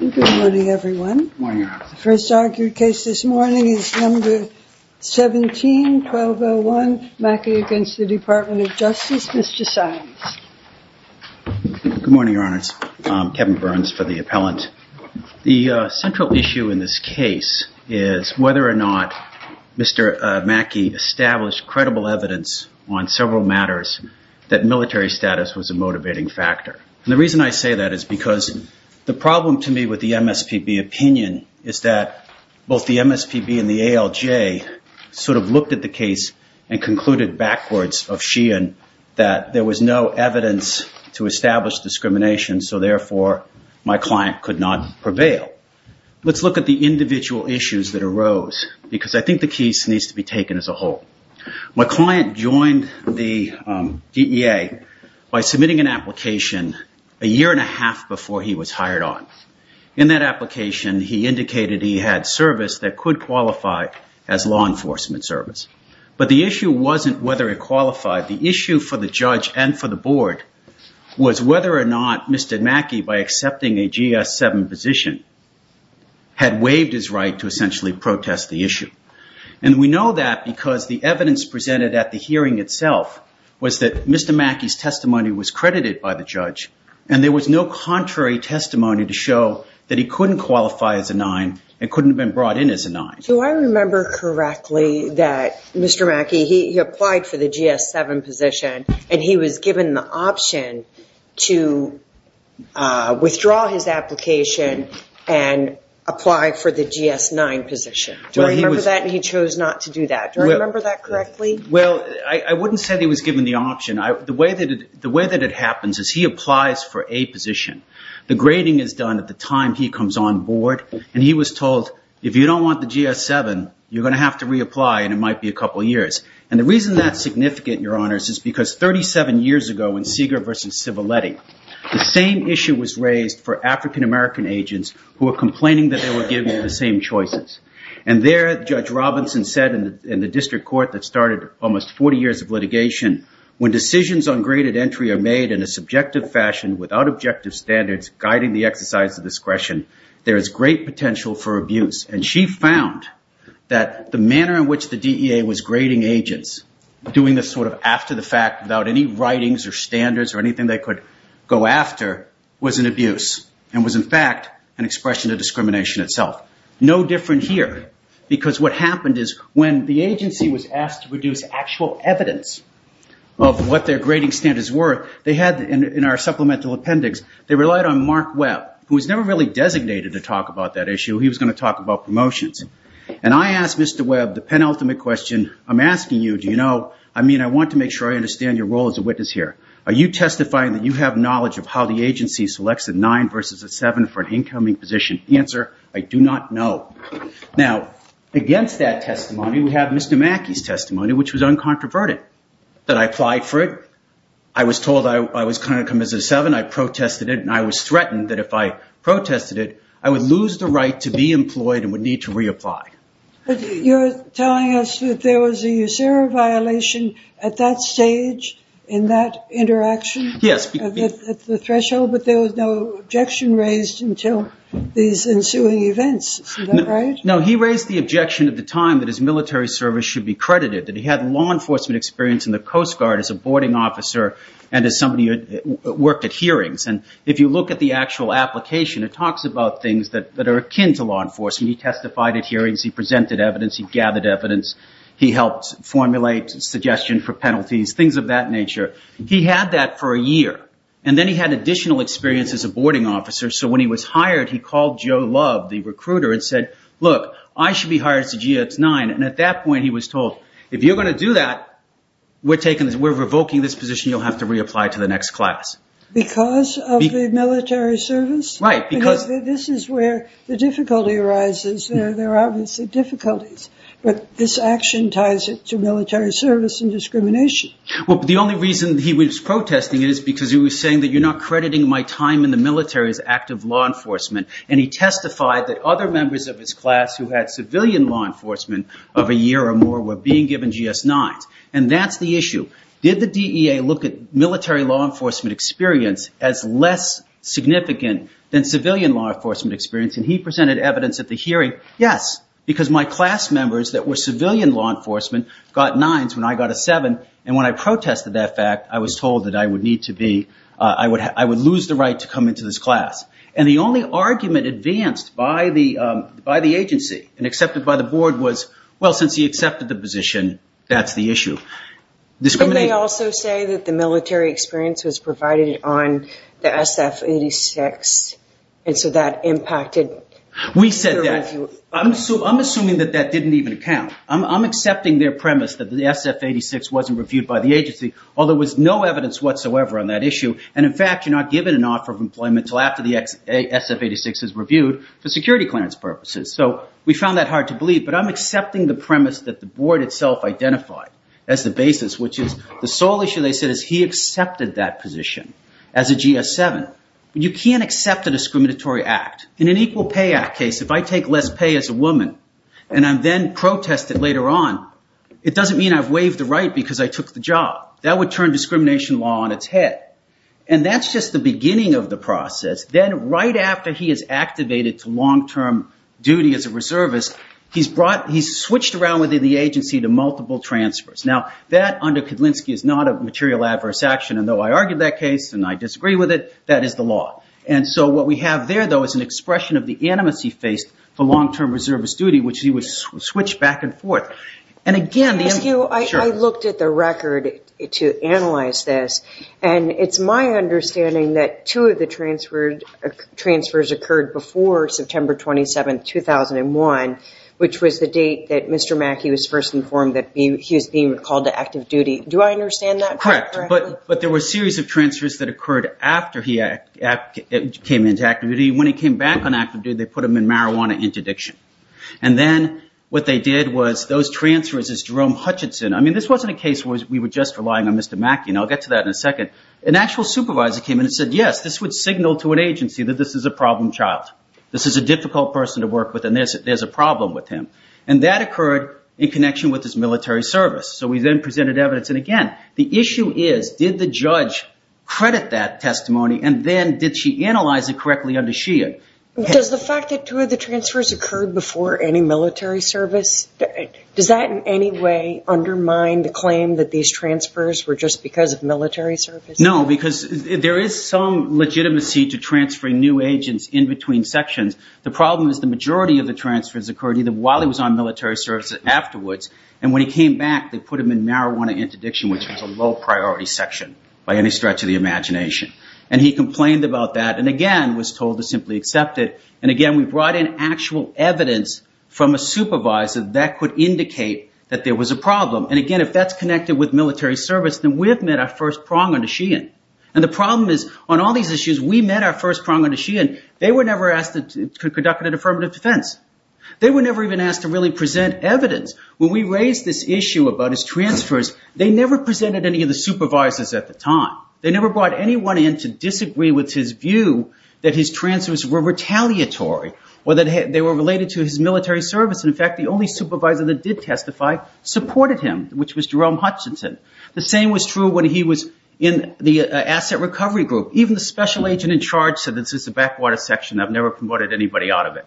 The central issue in this case is whether or not Mr. Maki established credible evidence on several matters that military status was a motivating factor. The reason I say that is because the problem to me with the MSPB opinion is that both the MSPB and the ALJ sort of looked at the case and concluded backwards of Sheehan that there was no evidence to establish discrimination so therefore my client could not prevail. Let's look at the individual issues that arose because I think the case needs to be taken as a whole. My client joined the DEA by submitting an application a year and a half before he was hired on. In that application he indicated he had service that could qualify as law enforcement service. But the issue wasn't whether it qualified. The issue for the judge and for the board was whether or not Mr. Maki, by accepting a GS-7 position, had waived his right to essentially protest the issue. And we know that because the evidence presented at the hearing itself was that Mr. Maki's testimony was credited by the judge and there was no contrary testimony to show that he couldn't qualify as a 9 and couldn't have been brought in as a 9. Do I remember correctly that Mr. Maki he applied for the GS-7 position and he was given the option to withdraw his application and apply for the GS-9 position? Do I remember that and he chose not to do that? Do I remember that correctly? Well, I wouldn't say he was given the option. The way that it happens is he applies for a position. The grading is done at the time he comes on board and he was told, if you don't want the GS-7, you're going to have to reapply and it might be a couple of years. And the reason that's significant, Your Honors, is because 37 years ago in Seeger v. Civiletti, the same issue was raised for African-American agents who were complaining that they were given the same choices. And there, Judge Robinson said in the district court that started almost 40 years of litigation, when decisions on graded entry are made in a subjective fashion without objective standards guiding the exercise of discretion, there is great potential for abuse. And she found that the manner in which the DEA was grading agents, doing this sort of after the fact without any writings or standards or anything they could go after, was an abuse and was in fact an expression of discrimination itself. No different here. Because what happened is when the agency was asked to produce actual evidence of what their grading standards were, they had in our supplemental appendix, they relied on Mark Webb, who was never really designated to talk about that issue. He was going to talk about promotions. And I asked Mr. Webb the penultimate question, I'm asking you, do you know, I mean, I want to make sure I understand your role as a witness here. Are you testifying that you have knowledge of how the agency selects a 9 versus a 7 for an incoming position? The answer, I do not know. Now, against that testimony, we have Mr. Mackey's testimony, which was uncontroverted, that I applied for it, I was told I was going to come as a 7, I protested it, and I was threatened that if I protested it, I would lose the right to be employed and would need to reapply. You're telling us that there was a USERRA violation at that stage in that interaction? Yes. At the threshold, but there was no objection raised until these ensuing events, is that right? No, he raised the objection at the time that his military service should be credited, that he had law enforcement experience in the Coast Guard as a boarding officer and as somebody who worked at hearings. And if you look at the actual application, it talks about things that are akin to law enforcement. He testified at hearings, he presented evidence, he gathered evidence, he helped formulate suggestions for penalties, things of that nature. He had that for a year, and then he had additional experience as a boarding officer, so when he was hired, he called Joe Love, the recruiter, and said, look, I should be hired as a GX9. And at that point, he was told, if you're going to do that, we're revoking this position, you'll have to reapply to the next class. Because of the military service? Right. Because this is where the difficulty arises. There are obviously difficulties, but this action ties it to military service and discrimination. Well, the only reason he was protesting it is because he was saying that you're not crediting my time in the military as active law enforcement, and he testified that other members of his class who had civilian law enforcement of a year or more were being given GS9s. And that's the issue. Did the DEA look at military law enforcement experience as less significant than civilian law enforcement experience? And he presented evidence at the hearing, yes. Because my class members that were civilian law enforcement got 9s when I got a 7, and when I protested that fact, I was told that I would lose the right to come into this class. And the only argument advanced by the agency and accepted by the board was, well, since he accepted the position, that's the issue. Didn't they also say that the military experience was provided on the SF-86, and so that impacted? We said that. I'm assuming that that didn't even count. I'm accepting their premise that the SF-86 wasn't reviewed by the agency, although there was no evidence whatsoever on that issue. And in fact, you're not given an offer of employment until after the SF-86 is reviewed for security clearance purposes. So we found that hard to believe, but I'm accepting the premise that the board itself identified as the basis, which is the sole issue, they said, is he accepted that position as a GS7. You can't accept a discriminatory act. In an Equal Pay Act case, if I take less pay as a woman and I'm then protested later on, it doesn't mean I've waived the right because I took the job. That would turn discrimination law on its head, and that's just the beginning of the process. Then right after he is activated to long-term duty as a reservist, he's switched around within the agency to multiple transfers. Now, that, under Kedlinski, is not a material adverse action, and though I argued that case and I disagree with it, that is the law. And so what we have there, though, is an expression of the animus he faced for long-term reservist duty, which he would switch back and forth. I looked at the record to analyze this, and it's my understanding that two of the transfers occurred before September 27, 2001, which was the date that Mr. Mackey was first informed that he was being called to active duty. Do I understand that correctly? Correct. But there were a series of transfers that occurred after he came into active duty. When he came back on active duty, they put him in marijuana interdiction. And then what they did was those transfers as Jerome Hutchinson. I mean, this wasn't a case where we were just relying on Mr. Mackey, and I'll get to that in a second. An actual supervisor came in and said, yes, this would signal to an agency that this is a problem child. This is a difficult person to work with, and there's a problem with him. And that occurred in connection with his military service. So we then presented evidence. And, again, the issue is did the judge credit that testimony, and then did she analyze it correctly under SHEA? Does the fact that two of the transfers occurred before any military service, does that in any way undermine the claim that these transfers were just because of military service? No, because there is some legitimacy to transferring new agents in between sections. The problem is the majority of the transfers occurred either while he was on military service or afterwards. And when he came back, they put him in marijuana interdiction, which was a low-priority section by any stretch of the imagination. And he complained about that and, again, was told to simply accept it. And, again, we brought in actual evidence from a supervisor that could indicate that there was a problem. And, again, if that's connected with military service, then we have met our first prong under SHEA. And the problem is on all these issues, we met our first prong under SHEA, and they were never asked to conduct an affirmative defense. They were never even asked to really present evidence. When we raised this issue about his transfers, they never presented any of the supervisors at the time. They never brought anyone in to disagree with his view that his transfers were retaliatory or that they were related to his military service. And, in fact, the only supervisor that did testify supported him, which was Jerome Hutchinson. The same was true when he was in the asset recovery group. Even the special agent in charge said this is a backwater section. I've never promoted anybody out of it.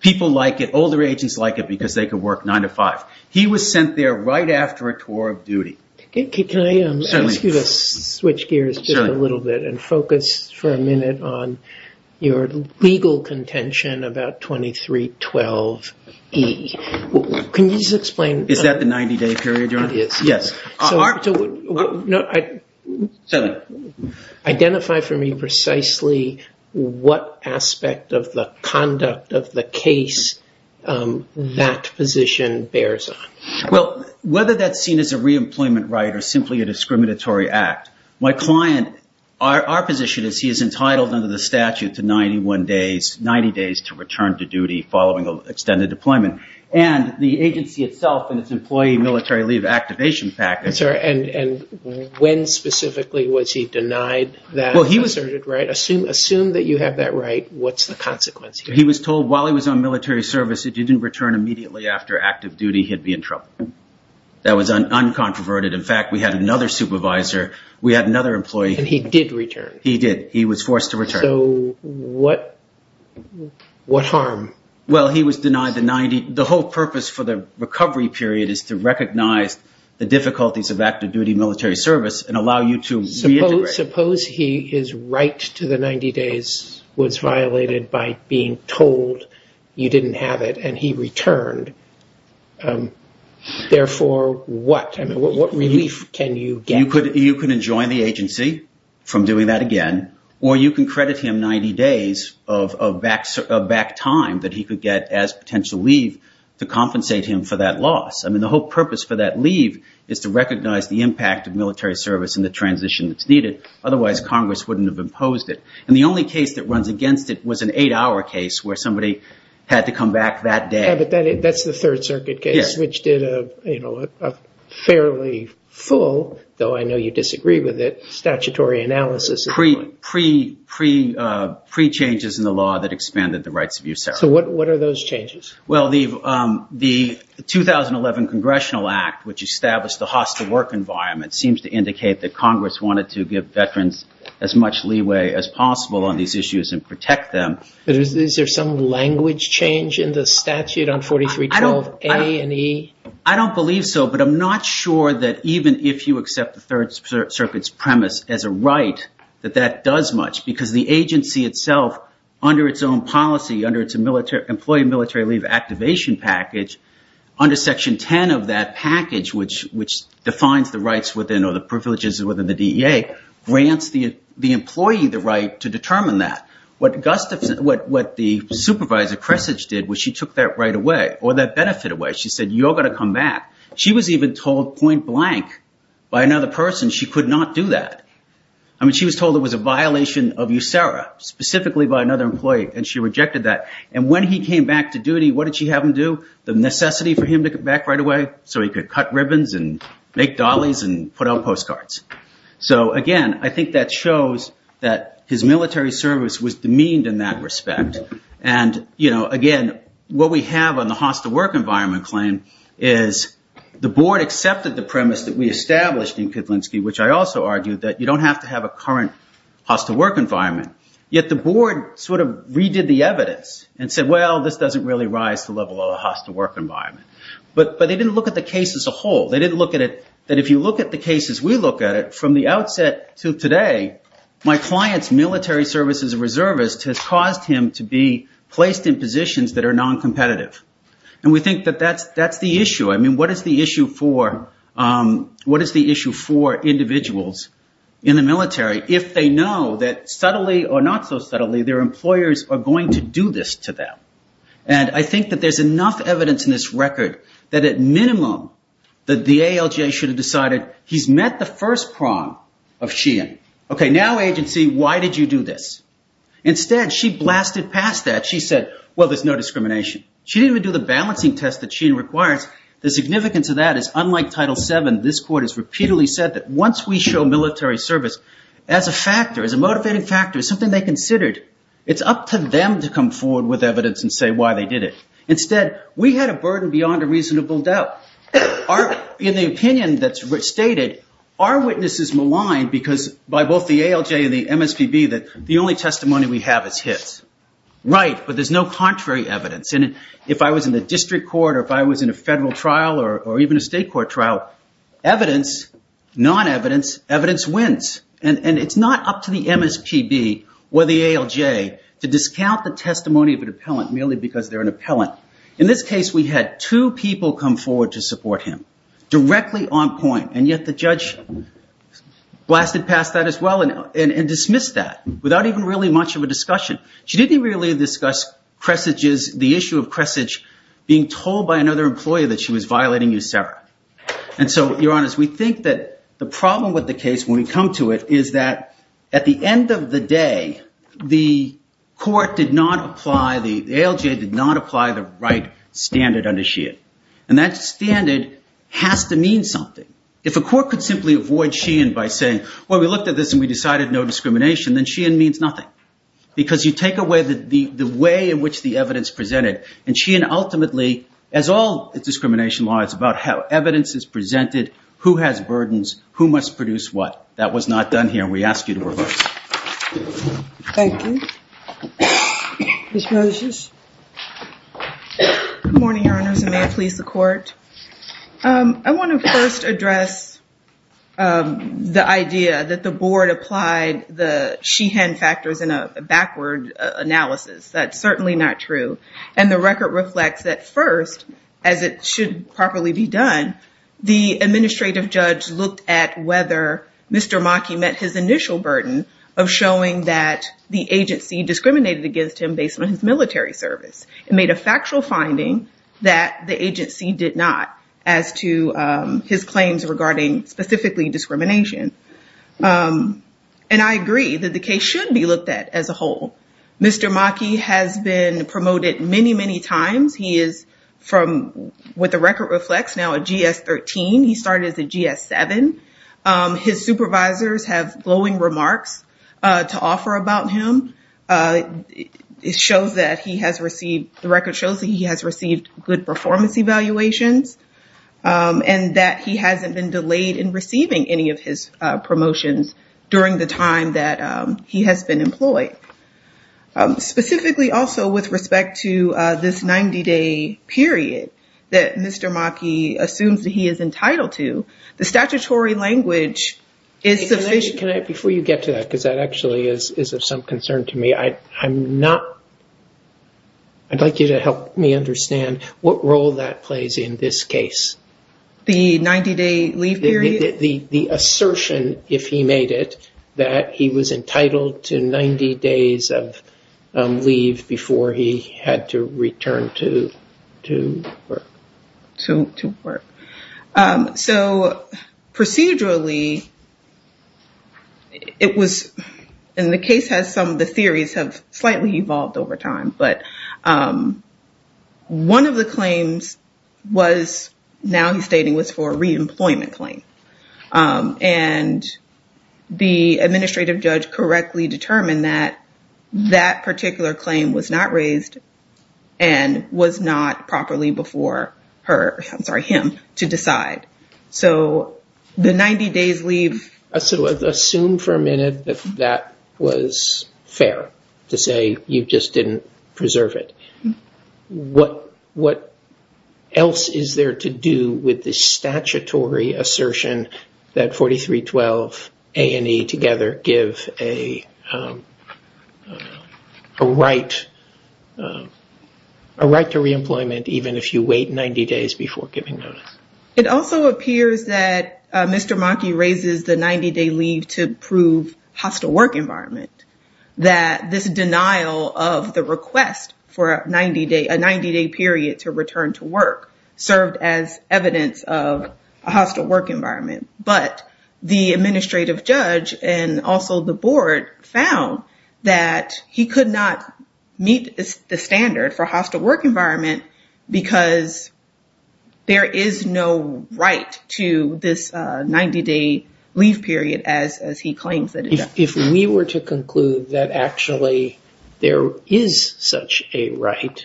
People like it. Older agents like it because they can work 9 to 5. He was sent there right after a tour of duty. Can I ask you to switch gears just a little bit and focus for a minute on your legal contention about 2312E? Can you just explain? It is. Yes. Certainly. Identify for me precisely what aspect of the conduct of the case that position bears on. Well, whether that's seen as a reemployment right or simply a discriminatory act, my client, our position is he is entitled under the statute to 90 days to return to duty following extended deployment. And the agency itself and its employee military leave activation package. I'm sorry. And when specifically was he denied that asserted right? Assume that you have that right. What's the consequence here? He was told while he was on military service, if he didn't return immediately after active duty, he'd be in trouble. That was uncontroverted. In fact, we had another supervisor. We had another employee. And he did return? He did. He was forced to return. So what harm? Well, he was denied the 90. The whole purpose for the recovery period is to recognize the difficulties of active duty military service and allow you to reintegrate. Suppose his right to the 90 days was violated by being told you didn't have it and he returned. Therefore, what relief can you get? You could enjoin the agency from doing that again. Or you can credit him 90 days of back time that he could get as potential leave to compensate him for that loss. I mean, the whole purpose for that leave is to recognize the impact of military service and the transition that's needed. Otherwise, Congress wouldn't have imposed it. And the only case that runs against it was an eight-hour case where somebody had to come back that day. Yeah, but that's the Third Circuit case, which did a fairly full, though I know you disagree with it, statutory analysis. Pre-changes in the law that expanded the rights of use. So what are those changes? Well, the 2011 Congressional Act, which established the hostile work environment, seems to indicate that Congress wanted to give veterans as much leeway as possible on these issues and protect them. But is there some language change in the statute on 4312A and E? I don't believe so, but I'm not sure that even if you accept the Third Circuit's premise as a right, that that does much. Because the agency itself, under its own policy, under its employee military leave activation package, under Section 10 of that package, which defines the rights within or the privileges within the DEA, grants the employee the right to determine that. What the supervisor, Kressage, did was she took that right away, or that benefit away. She said, you're going to come back. She was even told point blank by another person she could not do that. I mean, she was told it was a violation of USERRA, specifically by another employee, and she rejected that. And when he came back to duty, what did she have him do? The necessity for him to come back right away so he could cut ribbons and make dollies and put out postcards. So, again, I think that shows that his military service was demeaned in that respect. And, again, what we have on the hostile work environment claim is the board accepted the premise that we established in Kedlinski, which I also argued that you don't have to have a current hostile work environment. Yet the board sort of redid the evidence and said, well, this doesn't really rise to level of a hostile work environment. But they didn't look at the case as a whole. They didn't look at it that if you look at the case as we look at it, from the outset to today, my client's military service as a reservist has caused him to be placed in positions that are noncompetitive. And we think that that's the issue. I mean, what is the issue for individuals in the military if they know that subtly or not so subtly their employers are going to do this to them? And I think that there's enough evidence in this record that at minimum the ALJ should have decided he's met the first prong of Sheehan. Okay, now, agency, why did you do this? Instead, she blasted past that. She said, well, there's no discrimination. She didn't even do the balancing test that Sheehan requires. The significance of that is unlike Title VII, this court has repeatedly said that once we show military service as a factor, as a motivating factor, as something they considered, it's up to them to come forward with evidence and say why they did it. Instead, we had a burden beyond a reasonable doubt. In the opinion that's stated, our witness is maligned because by both the ALJ and the MSPB that the only testimony we have is hits. Right, but there's no contrary evidence. And if I was in the district court or if I was in a federal trial or even a state court trial, evidence, non-evidence, evidence wins. And it's not up to the MSPB or the ALJ to discount the testimony of an appellant merely because they're an appellant. In this case, we had two people come forward to support him directly on point. And yet the judge blasted past that as well and dismissed that without even really much of a discussion. She didn't really discuss Cresage's, the issue of Cresage being told by another employee that she was violating USERRA. And so, Your Honor, we think that the problem with the case when we come to it is that at the end of the day, the court did not apply, the ALJ did not apply the right standard under SHEIN. And that standard has to mean something. If a court could simply avoid SHEIN by saying, well, we looked at this and we decided no discrimination, then SHEIN means nothing. Because you take away the way in which the evidence presented. And SHEIN ultimately, as all discrimination law, is about how evidence is presented, who has burdens, who must produce what. That was not done here. We ask you to reverse. Thank you. Ms. Moses. Good morning, Your Honors, and may it please the Court. I want to first address the idea that the board applied the SHEIN factors in a backward analysis. That's certainly not true. And the record reflects that first, as it should properly be done, the administrative judge looked at whether Mr. Maki met his initial burden of showing that the agency discriminated against him based on his military service. It made a factual finding that the agency did not as to his claims regarding specifically discrimination. And I agree that the case should be looked at as a whole. Mr. Maki has been promoted many, many times. He is from, what the record reflects, now a GS-13. He started as a GS-7. His supervisors have glowing remarks to offer about him. It shows that he has received, the record shows that he has received good performance evaluations and that he hasn't been delayed in receiving any of his promotions during the time that he has been employed. Specifically also with respect to this 90-day period that Mr. Maki assumes that he is entitled to, the statutory language is sufficient. Before you get to that, because that actually is of some concern to me, I'd like you to help me understand what role that plays in this case. The 90-day leave period? The assertion, if he made it, that he was entitled to 90 days of leave before he had to return to work. To work. Procedurally, it was, and the case has some of the theories have slightly evolved over time. But one of the claims was, now he's stating, was for a re-employment claim. The administrative judge correctly determined that that particular claim was not raised and was not properly before him to decide. The 90 days leave- Assume for a minute that that was fair, to say you just didn't preserve it. What else is there to do with the statutory assertion that 4312A and E together give a right to re-employment even if you wait 90 days before giving notice? It also appears that Mr. Maki raises the 90-day leave to prove hostile work environment. That this denial of the request for a 90-day period to return to work served as evidence of a hostile work environment. But the administrative judge and also the board found that he could not meet the standard for hostile work environment because there is no right to this 90-day leave period as he claims it is. If we were to conclude that actually there is such a right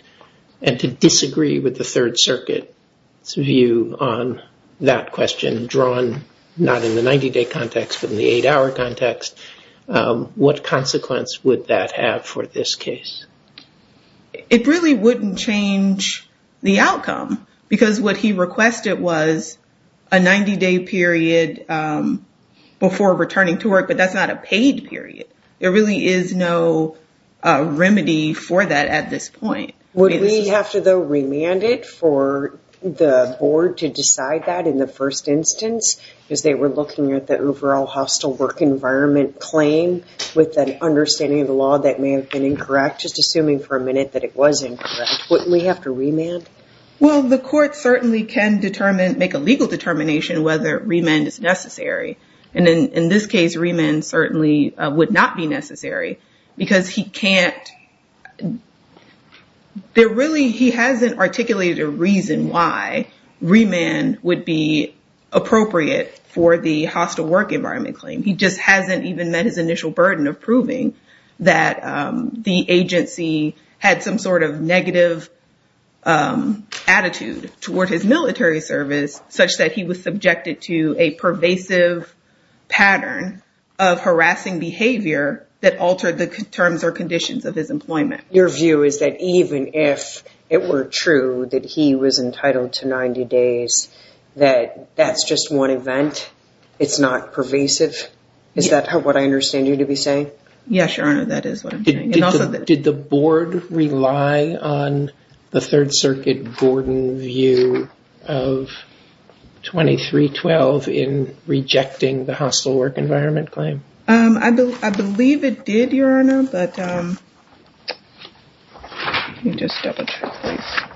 and to disagree with the Third Circuit's view on that question, drawn not in the 90-day context, but in the eight-hour context, what consequence would that have for this case? It really wouldn't change the outcome because what he requested was a 90-day period before returning to work, but that's not a paid period. There really is no remedy for that at this point. Would we have to, though, remand it for the board to decide that in the first instance? Because they were looking at the overall hostile work environment claim with an understanding of the law that may have been incorrect, just assuming for a minute that it was incorrect. Wouldn't we have to remand? Well, the court certainly can make a legal determination whether remand is necessary. In this case, remand certainly would not be necessary because he can't... He hasn't articulated a reason why remand would be appropriate for the hostile work environment claim. He just hasn't even met his initial burden of proving that the agency had some sort of negative attitude toward his military service, such that he was subjected to a pervasive pattern of harassing behavior that altered the terms or conditions of his employment. Your view is that even if it were true that he was entitled to 90 days, that that's just one event? It's not pervasive? Is that what I understand you to be saying? Yes, Your Honor, that is what I'm saying. Did the board rely on the Third Circuit Gordon view of 2312 in rejecting the hostile work environment claim? I believe it did, Your Honor, but... Let me just double check, please.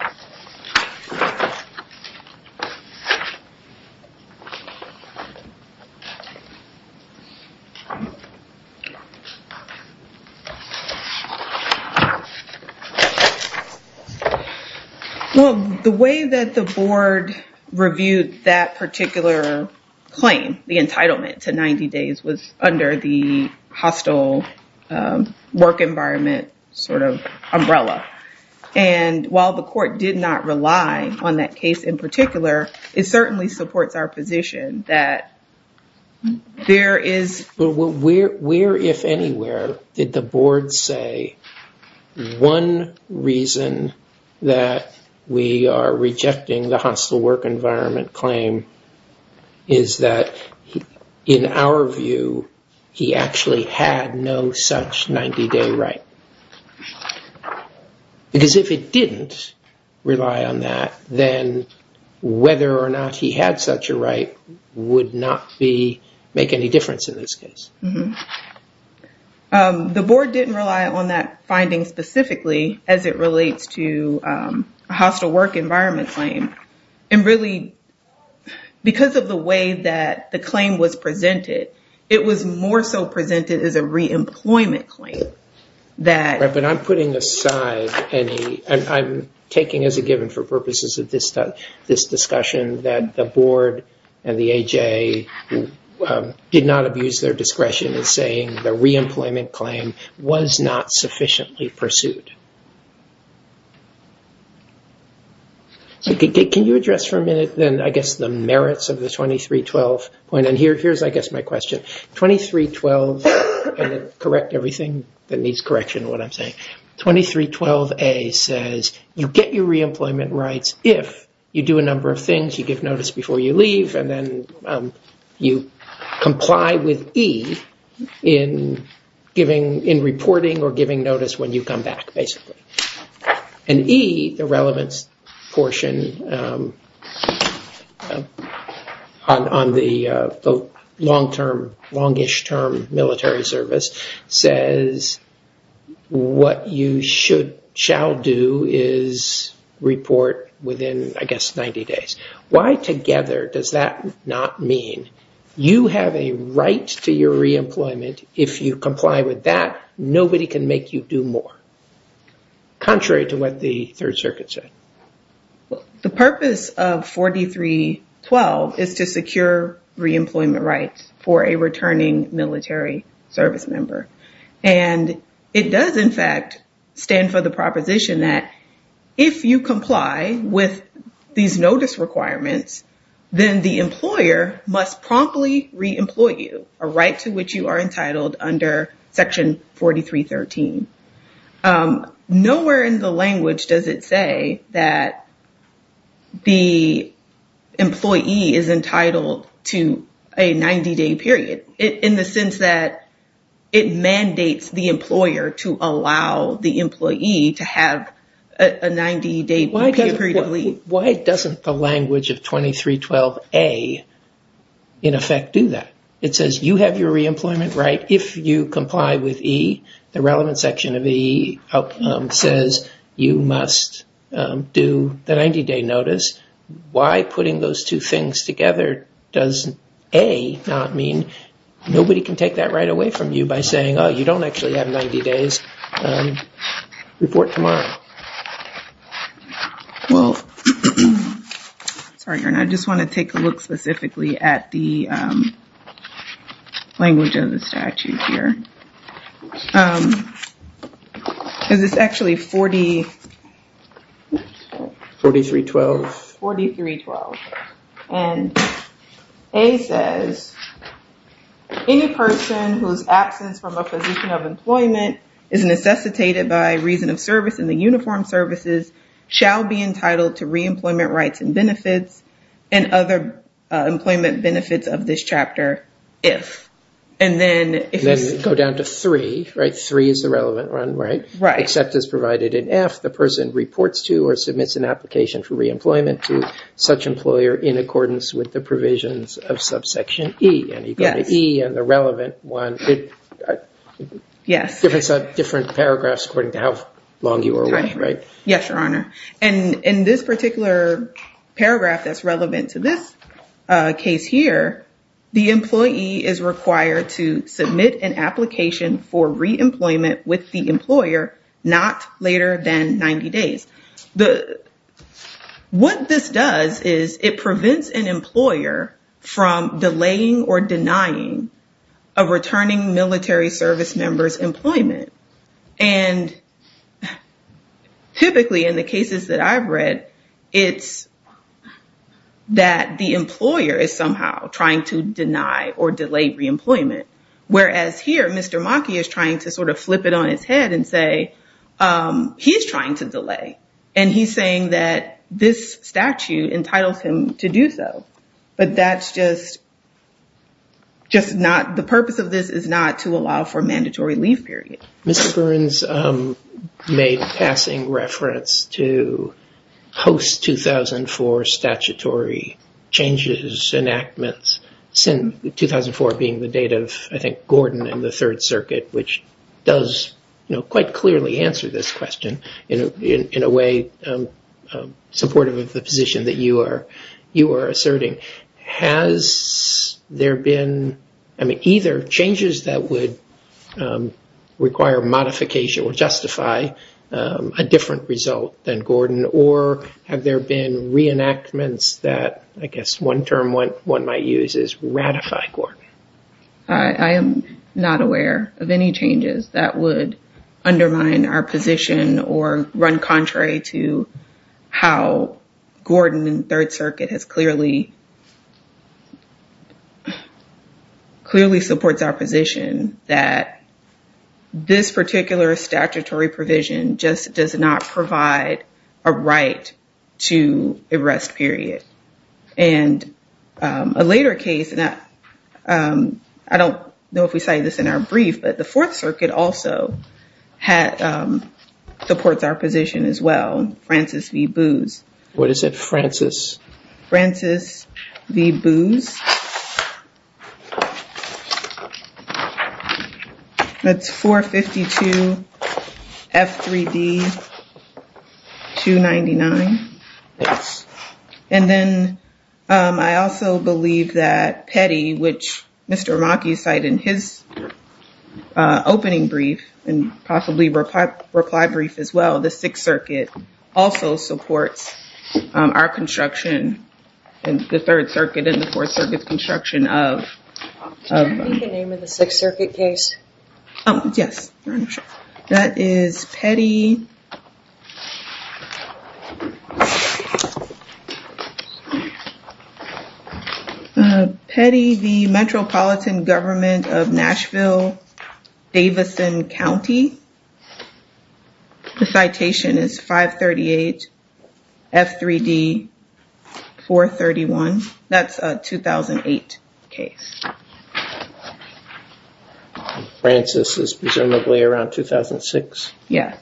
Well, the way that the board reviewed that particular claim, the entitlement to 90 days, was under the hostile work environment umbrella. While the court did not rely on that case in particular, it certainly supports our position that there is... Where, if anywhere, did the board say one reason that we are rejecting the hostile work environment claim is that, in our view, he actually had no such 90 day right? Because if it didn't rely on that, then whether or not he had such a right would not make any difference in this case. The board didn't rely on that finding specifically as it relates to hostile work environment claim. Really, because of the way that the claim was presented, it was more so presented as a re-employment claim. But I'm putting aside any... I'm taking as a given, for purposes of this discussion, that the board and the AJA did not abuse their discretion in saying the re-employment claim was not sufficiently pursued. Can you address for a minute, I guess, the merits of the 2312 point? Here's, I guess, my question. 2312, and correct everything that needs correction, what I'm saying. 2312A says you get your re-employment rights if you do a number of things. You give notice before you leave, and then you comply with E in reporting or giving notice when you come back, basically. E, the relevance portion on the long-ish term military service, says what you shall do is report within, I guess, 90 days. Why together does that not mean you have a right to your re-employment, if you comply with that, nobody can make you do more? Contrary to what the Third Circuit said. The purpose of 4312 is to secure re-employment rights for a returning military service member. It does, in fact, stand for the proposition that if you comply with these notice requirements, then the employer must promptly re-employ you, a right to which you are entitled under Section 4313. Nowhere in the language does it say that the employee is entitled to a 90-day period, in the sense that it mandates the employer to allow the employee to have a 90-day period of leave. Why doesn't the language of 2312A, in effect, do that? It says you have your re-employment right, if you comply with E, the relevance section of E says you must do the 90-day notice. Why putting those two things together does A, not mean nobody can take that right away from you by saying, oh, you don't actually have 90 days, report tomorrow. Well, sorry, I just want to take a look specifically at the language of the statute here. Is this actually 4312? 4312. And A says, any person whose absence from a position of employment is necessitated by reason of service in the uniformed services shall be entitled to re-employment rights and benefits and other employment benefits of this chapter, if. And then go down to three, right? Three is the relevant one, right? Right. Except as provided in F, the person reports to or submits an application for re-employment to such employer in accordance with the provisions of subsection E. And you go to E and the relevant one. Yes. Different paragraphs according to how long you were away, right? Right. Yes, Your Honor. And in this particular paragraph that's relevant to this case here, the employee is required to submit an application for re-employment with the employer not later than 90 days. What this does is it prevents an employer from delaying or denying a returning military service member's employment. And typically in the cases that I've read, it's that the employer is somehow trying to deny or delay re-employment. Whereas here, Mr. Maki is trying to sort of flip it on its head and say, he's trying to delay. And he's saying that this statute entitles him to do so. But that's just not the purpose of this is not to allow for mandatory leave period. Mr. Burns made passing reference to host 2004 statutory changes, enactments, 2004 being the date of, I think, Gordon and the Third Circuit, which does quite clearly answer this question in a way supportive of the position that you are asserting. Has there been either changes that would require modification or justify a different result than Gordon? Or have there been re-enactments that I guess one term one might use is ratify Gordon? I am not aware of any changes that would undermine our position or run contrary to how Gordon and Third Circuit has clearly, clearly supports our position that this particular statutory provision just does not provide a right to arrest period. And a later case that I don't know if we say this in our brief, but the Fourth Circuit also had supports our position as well. What is it, Francis? Francis v. Booz. That's 452 F3D 299. Yes. And then I also believe that Petty, which Mr. Mackey cited in his opening brief and possibly reply brief as well, the Sixth Circuit also supports our construction and the Third Circuit and the Fourth Circuit's construction of. Can you repeat the name of the Sixth Circuit case? Yes. That is Petty. Petty v. Metropolitan Government of Nashville, Davidson County. The citation is 538 F3D 431. That's a 2008 case. Francis is presumably around 2006. Yes.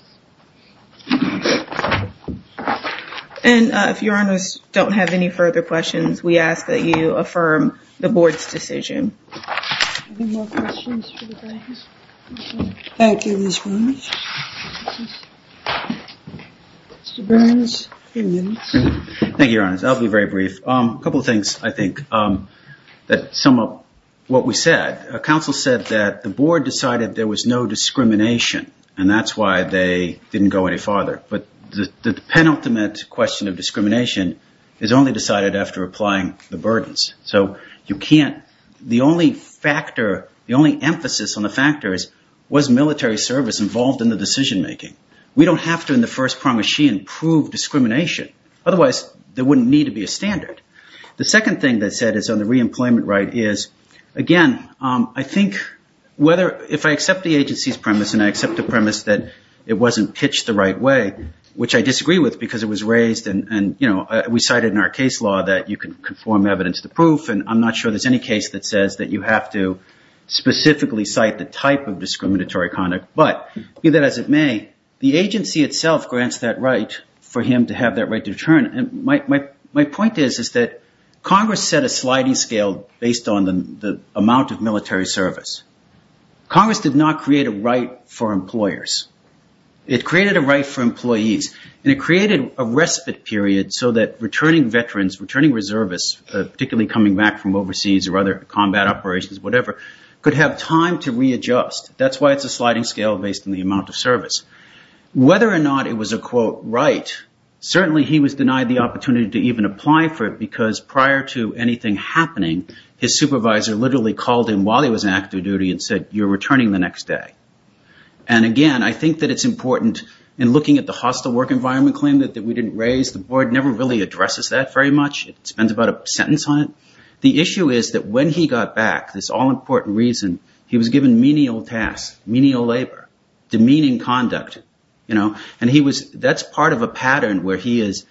And if your honors don't have any further questions, we ask that you affirm the board's decision. Thank you, your honors. I'll be very brief. A couple of things, I think, that sum up what we said. Council said that the board decided there was no discrimination and that's why they didn't go any farther. But the penultimate question of discrimination is only decided after applying the burdens. So you can't, the only factor, the only emphasis on the factors was military service involved in the decision making. We don't have to, in the first premise, prove discrimination. Otherwise, there wouldn't need to be a standard. The second thing they said is on the reemployment right is, again, I think whether, if I accept the agency's premise and I accept the premise that it wasn't pitched the right way, which I disagree with because it was raised and, you know, we cited in our case law that you can conform evidence to proof and I'm not sure there's any case that says that you have to specifically cite the type of discriminatory conduct. But be that as it may, the agency itself grants that right for him to have that right to return. My point is that Congress set a sliding scale based on the amount of military service. Congress did not create a right for employers. It created a right for employees and it created a respite period so that returning veterans, returning reservists, particularly coming back from overseas or other combat operations, whatever, could have time to readjust. That's why it's a sliding scale based on the amount of service. Whether or not it was a quote right, certainly he was denied the opportunity to even apply for it because prior to anything happening, his supervisor literally called him while he was in active duty and said, you're returning the next day. And, again, I think that it's important in looking at the hostile work environment claim that we didn't raise, the board never really addresses that very much. It spends about a sentence on it. The issue is that when he got back, this all-important reason, he was given menial tasks, menial labor, demeaning conduct. And that's part of a pattern where he is,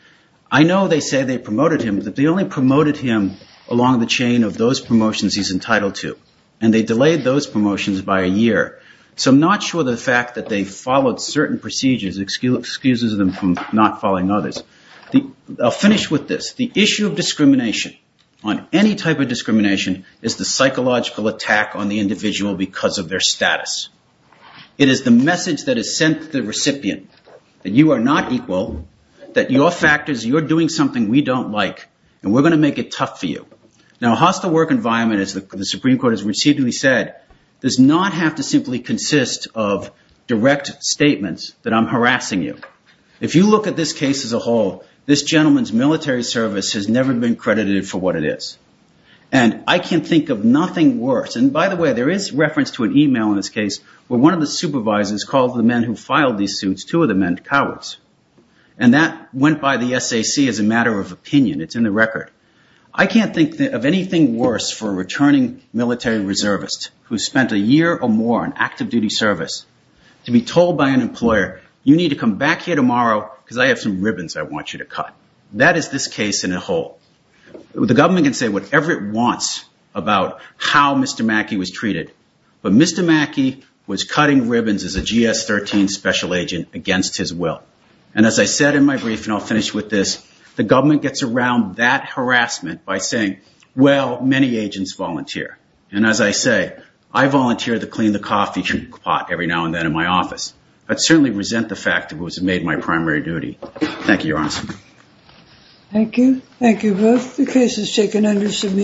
I know they say they promoted him, but they only promoted him along the chain of those promotions he's entitled to. And they delayed those promotions by a year. So I'm not sure the fact that they followed certain procedures excuses them from not following others. I'll finish with this. The issue of discrimination on any type of discrimination is the psychological attack on the individual because of their status. It is the message that is sent to the recipient that you are not equal, that your factors, you're doing something we don't like, and we're going to make it tough for you. Now, a hostile work environment, as the Supreme Court has recently said, does not have to simply consist of direct statements that I'm harassing you. If you look at this case as a whole, this gentleman's military service has never been credited for what it is. And I can't think of nothing worse. And by the way, there is reference to an email in this case where one of the supervisors called the men who filed these suits, two of the men, cowards. And that went by the SAC as a matter of opinion. It's in the record. I can't think of anything worse for a returning military reservist who spent a year or more in active duty service to be told by an employer, you need to come back here tomorrow because I have some ribbons I want you to cut. That is this case in a whole. The government can say whatever it wants about how Mr. Mackey was treated, but Mr. Mackey was cutting ribbons as a GS-13 special agent against his will. And as I said in my brief, and I'll finish with this, the government gets around that harassment by saying, well, many agents volunteer. And as I say, I volunteer to clean the coffee pot every now and then in my office. I certainly resent the fact that it was made my primary duty. Thank you, Your Honor. Thank you. Thank you both. The case is taken under submission.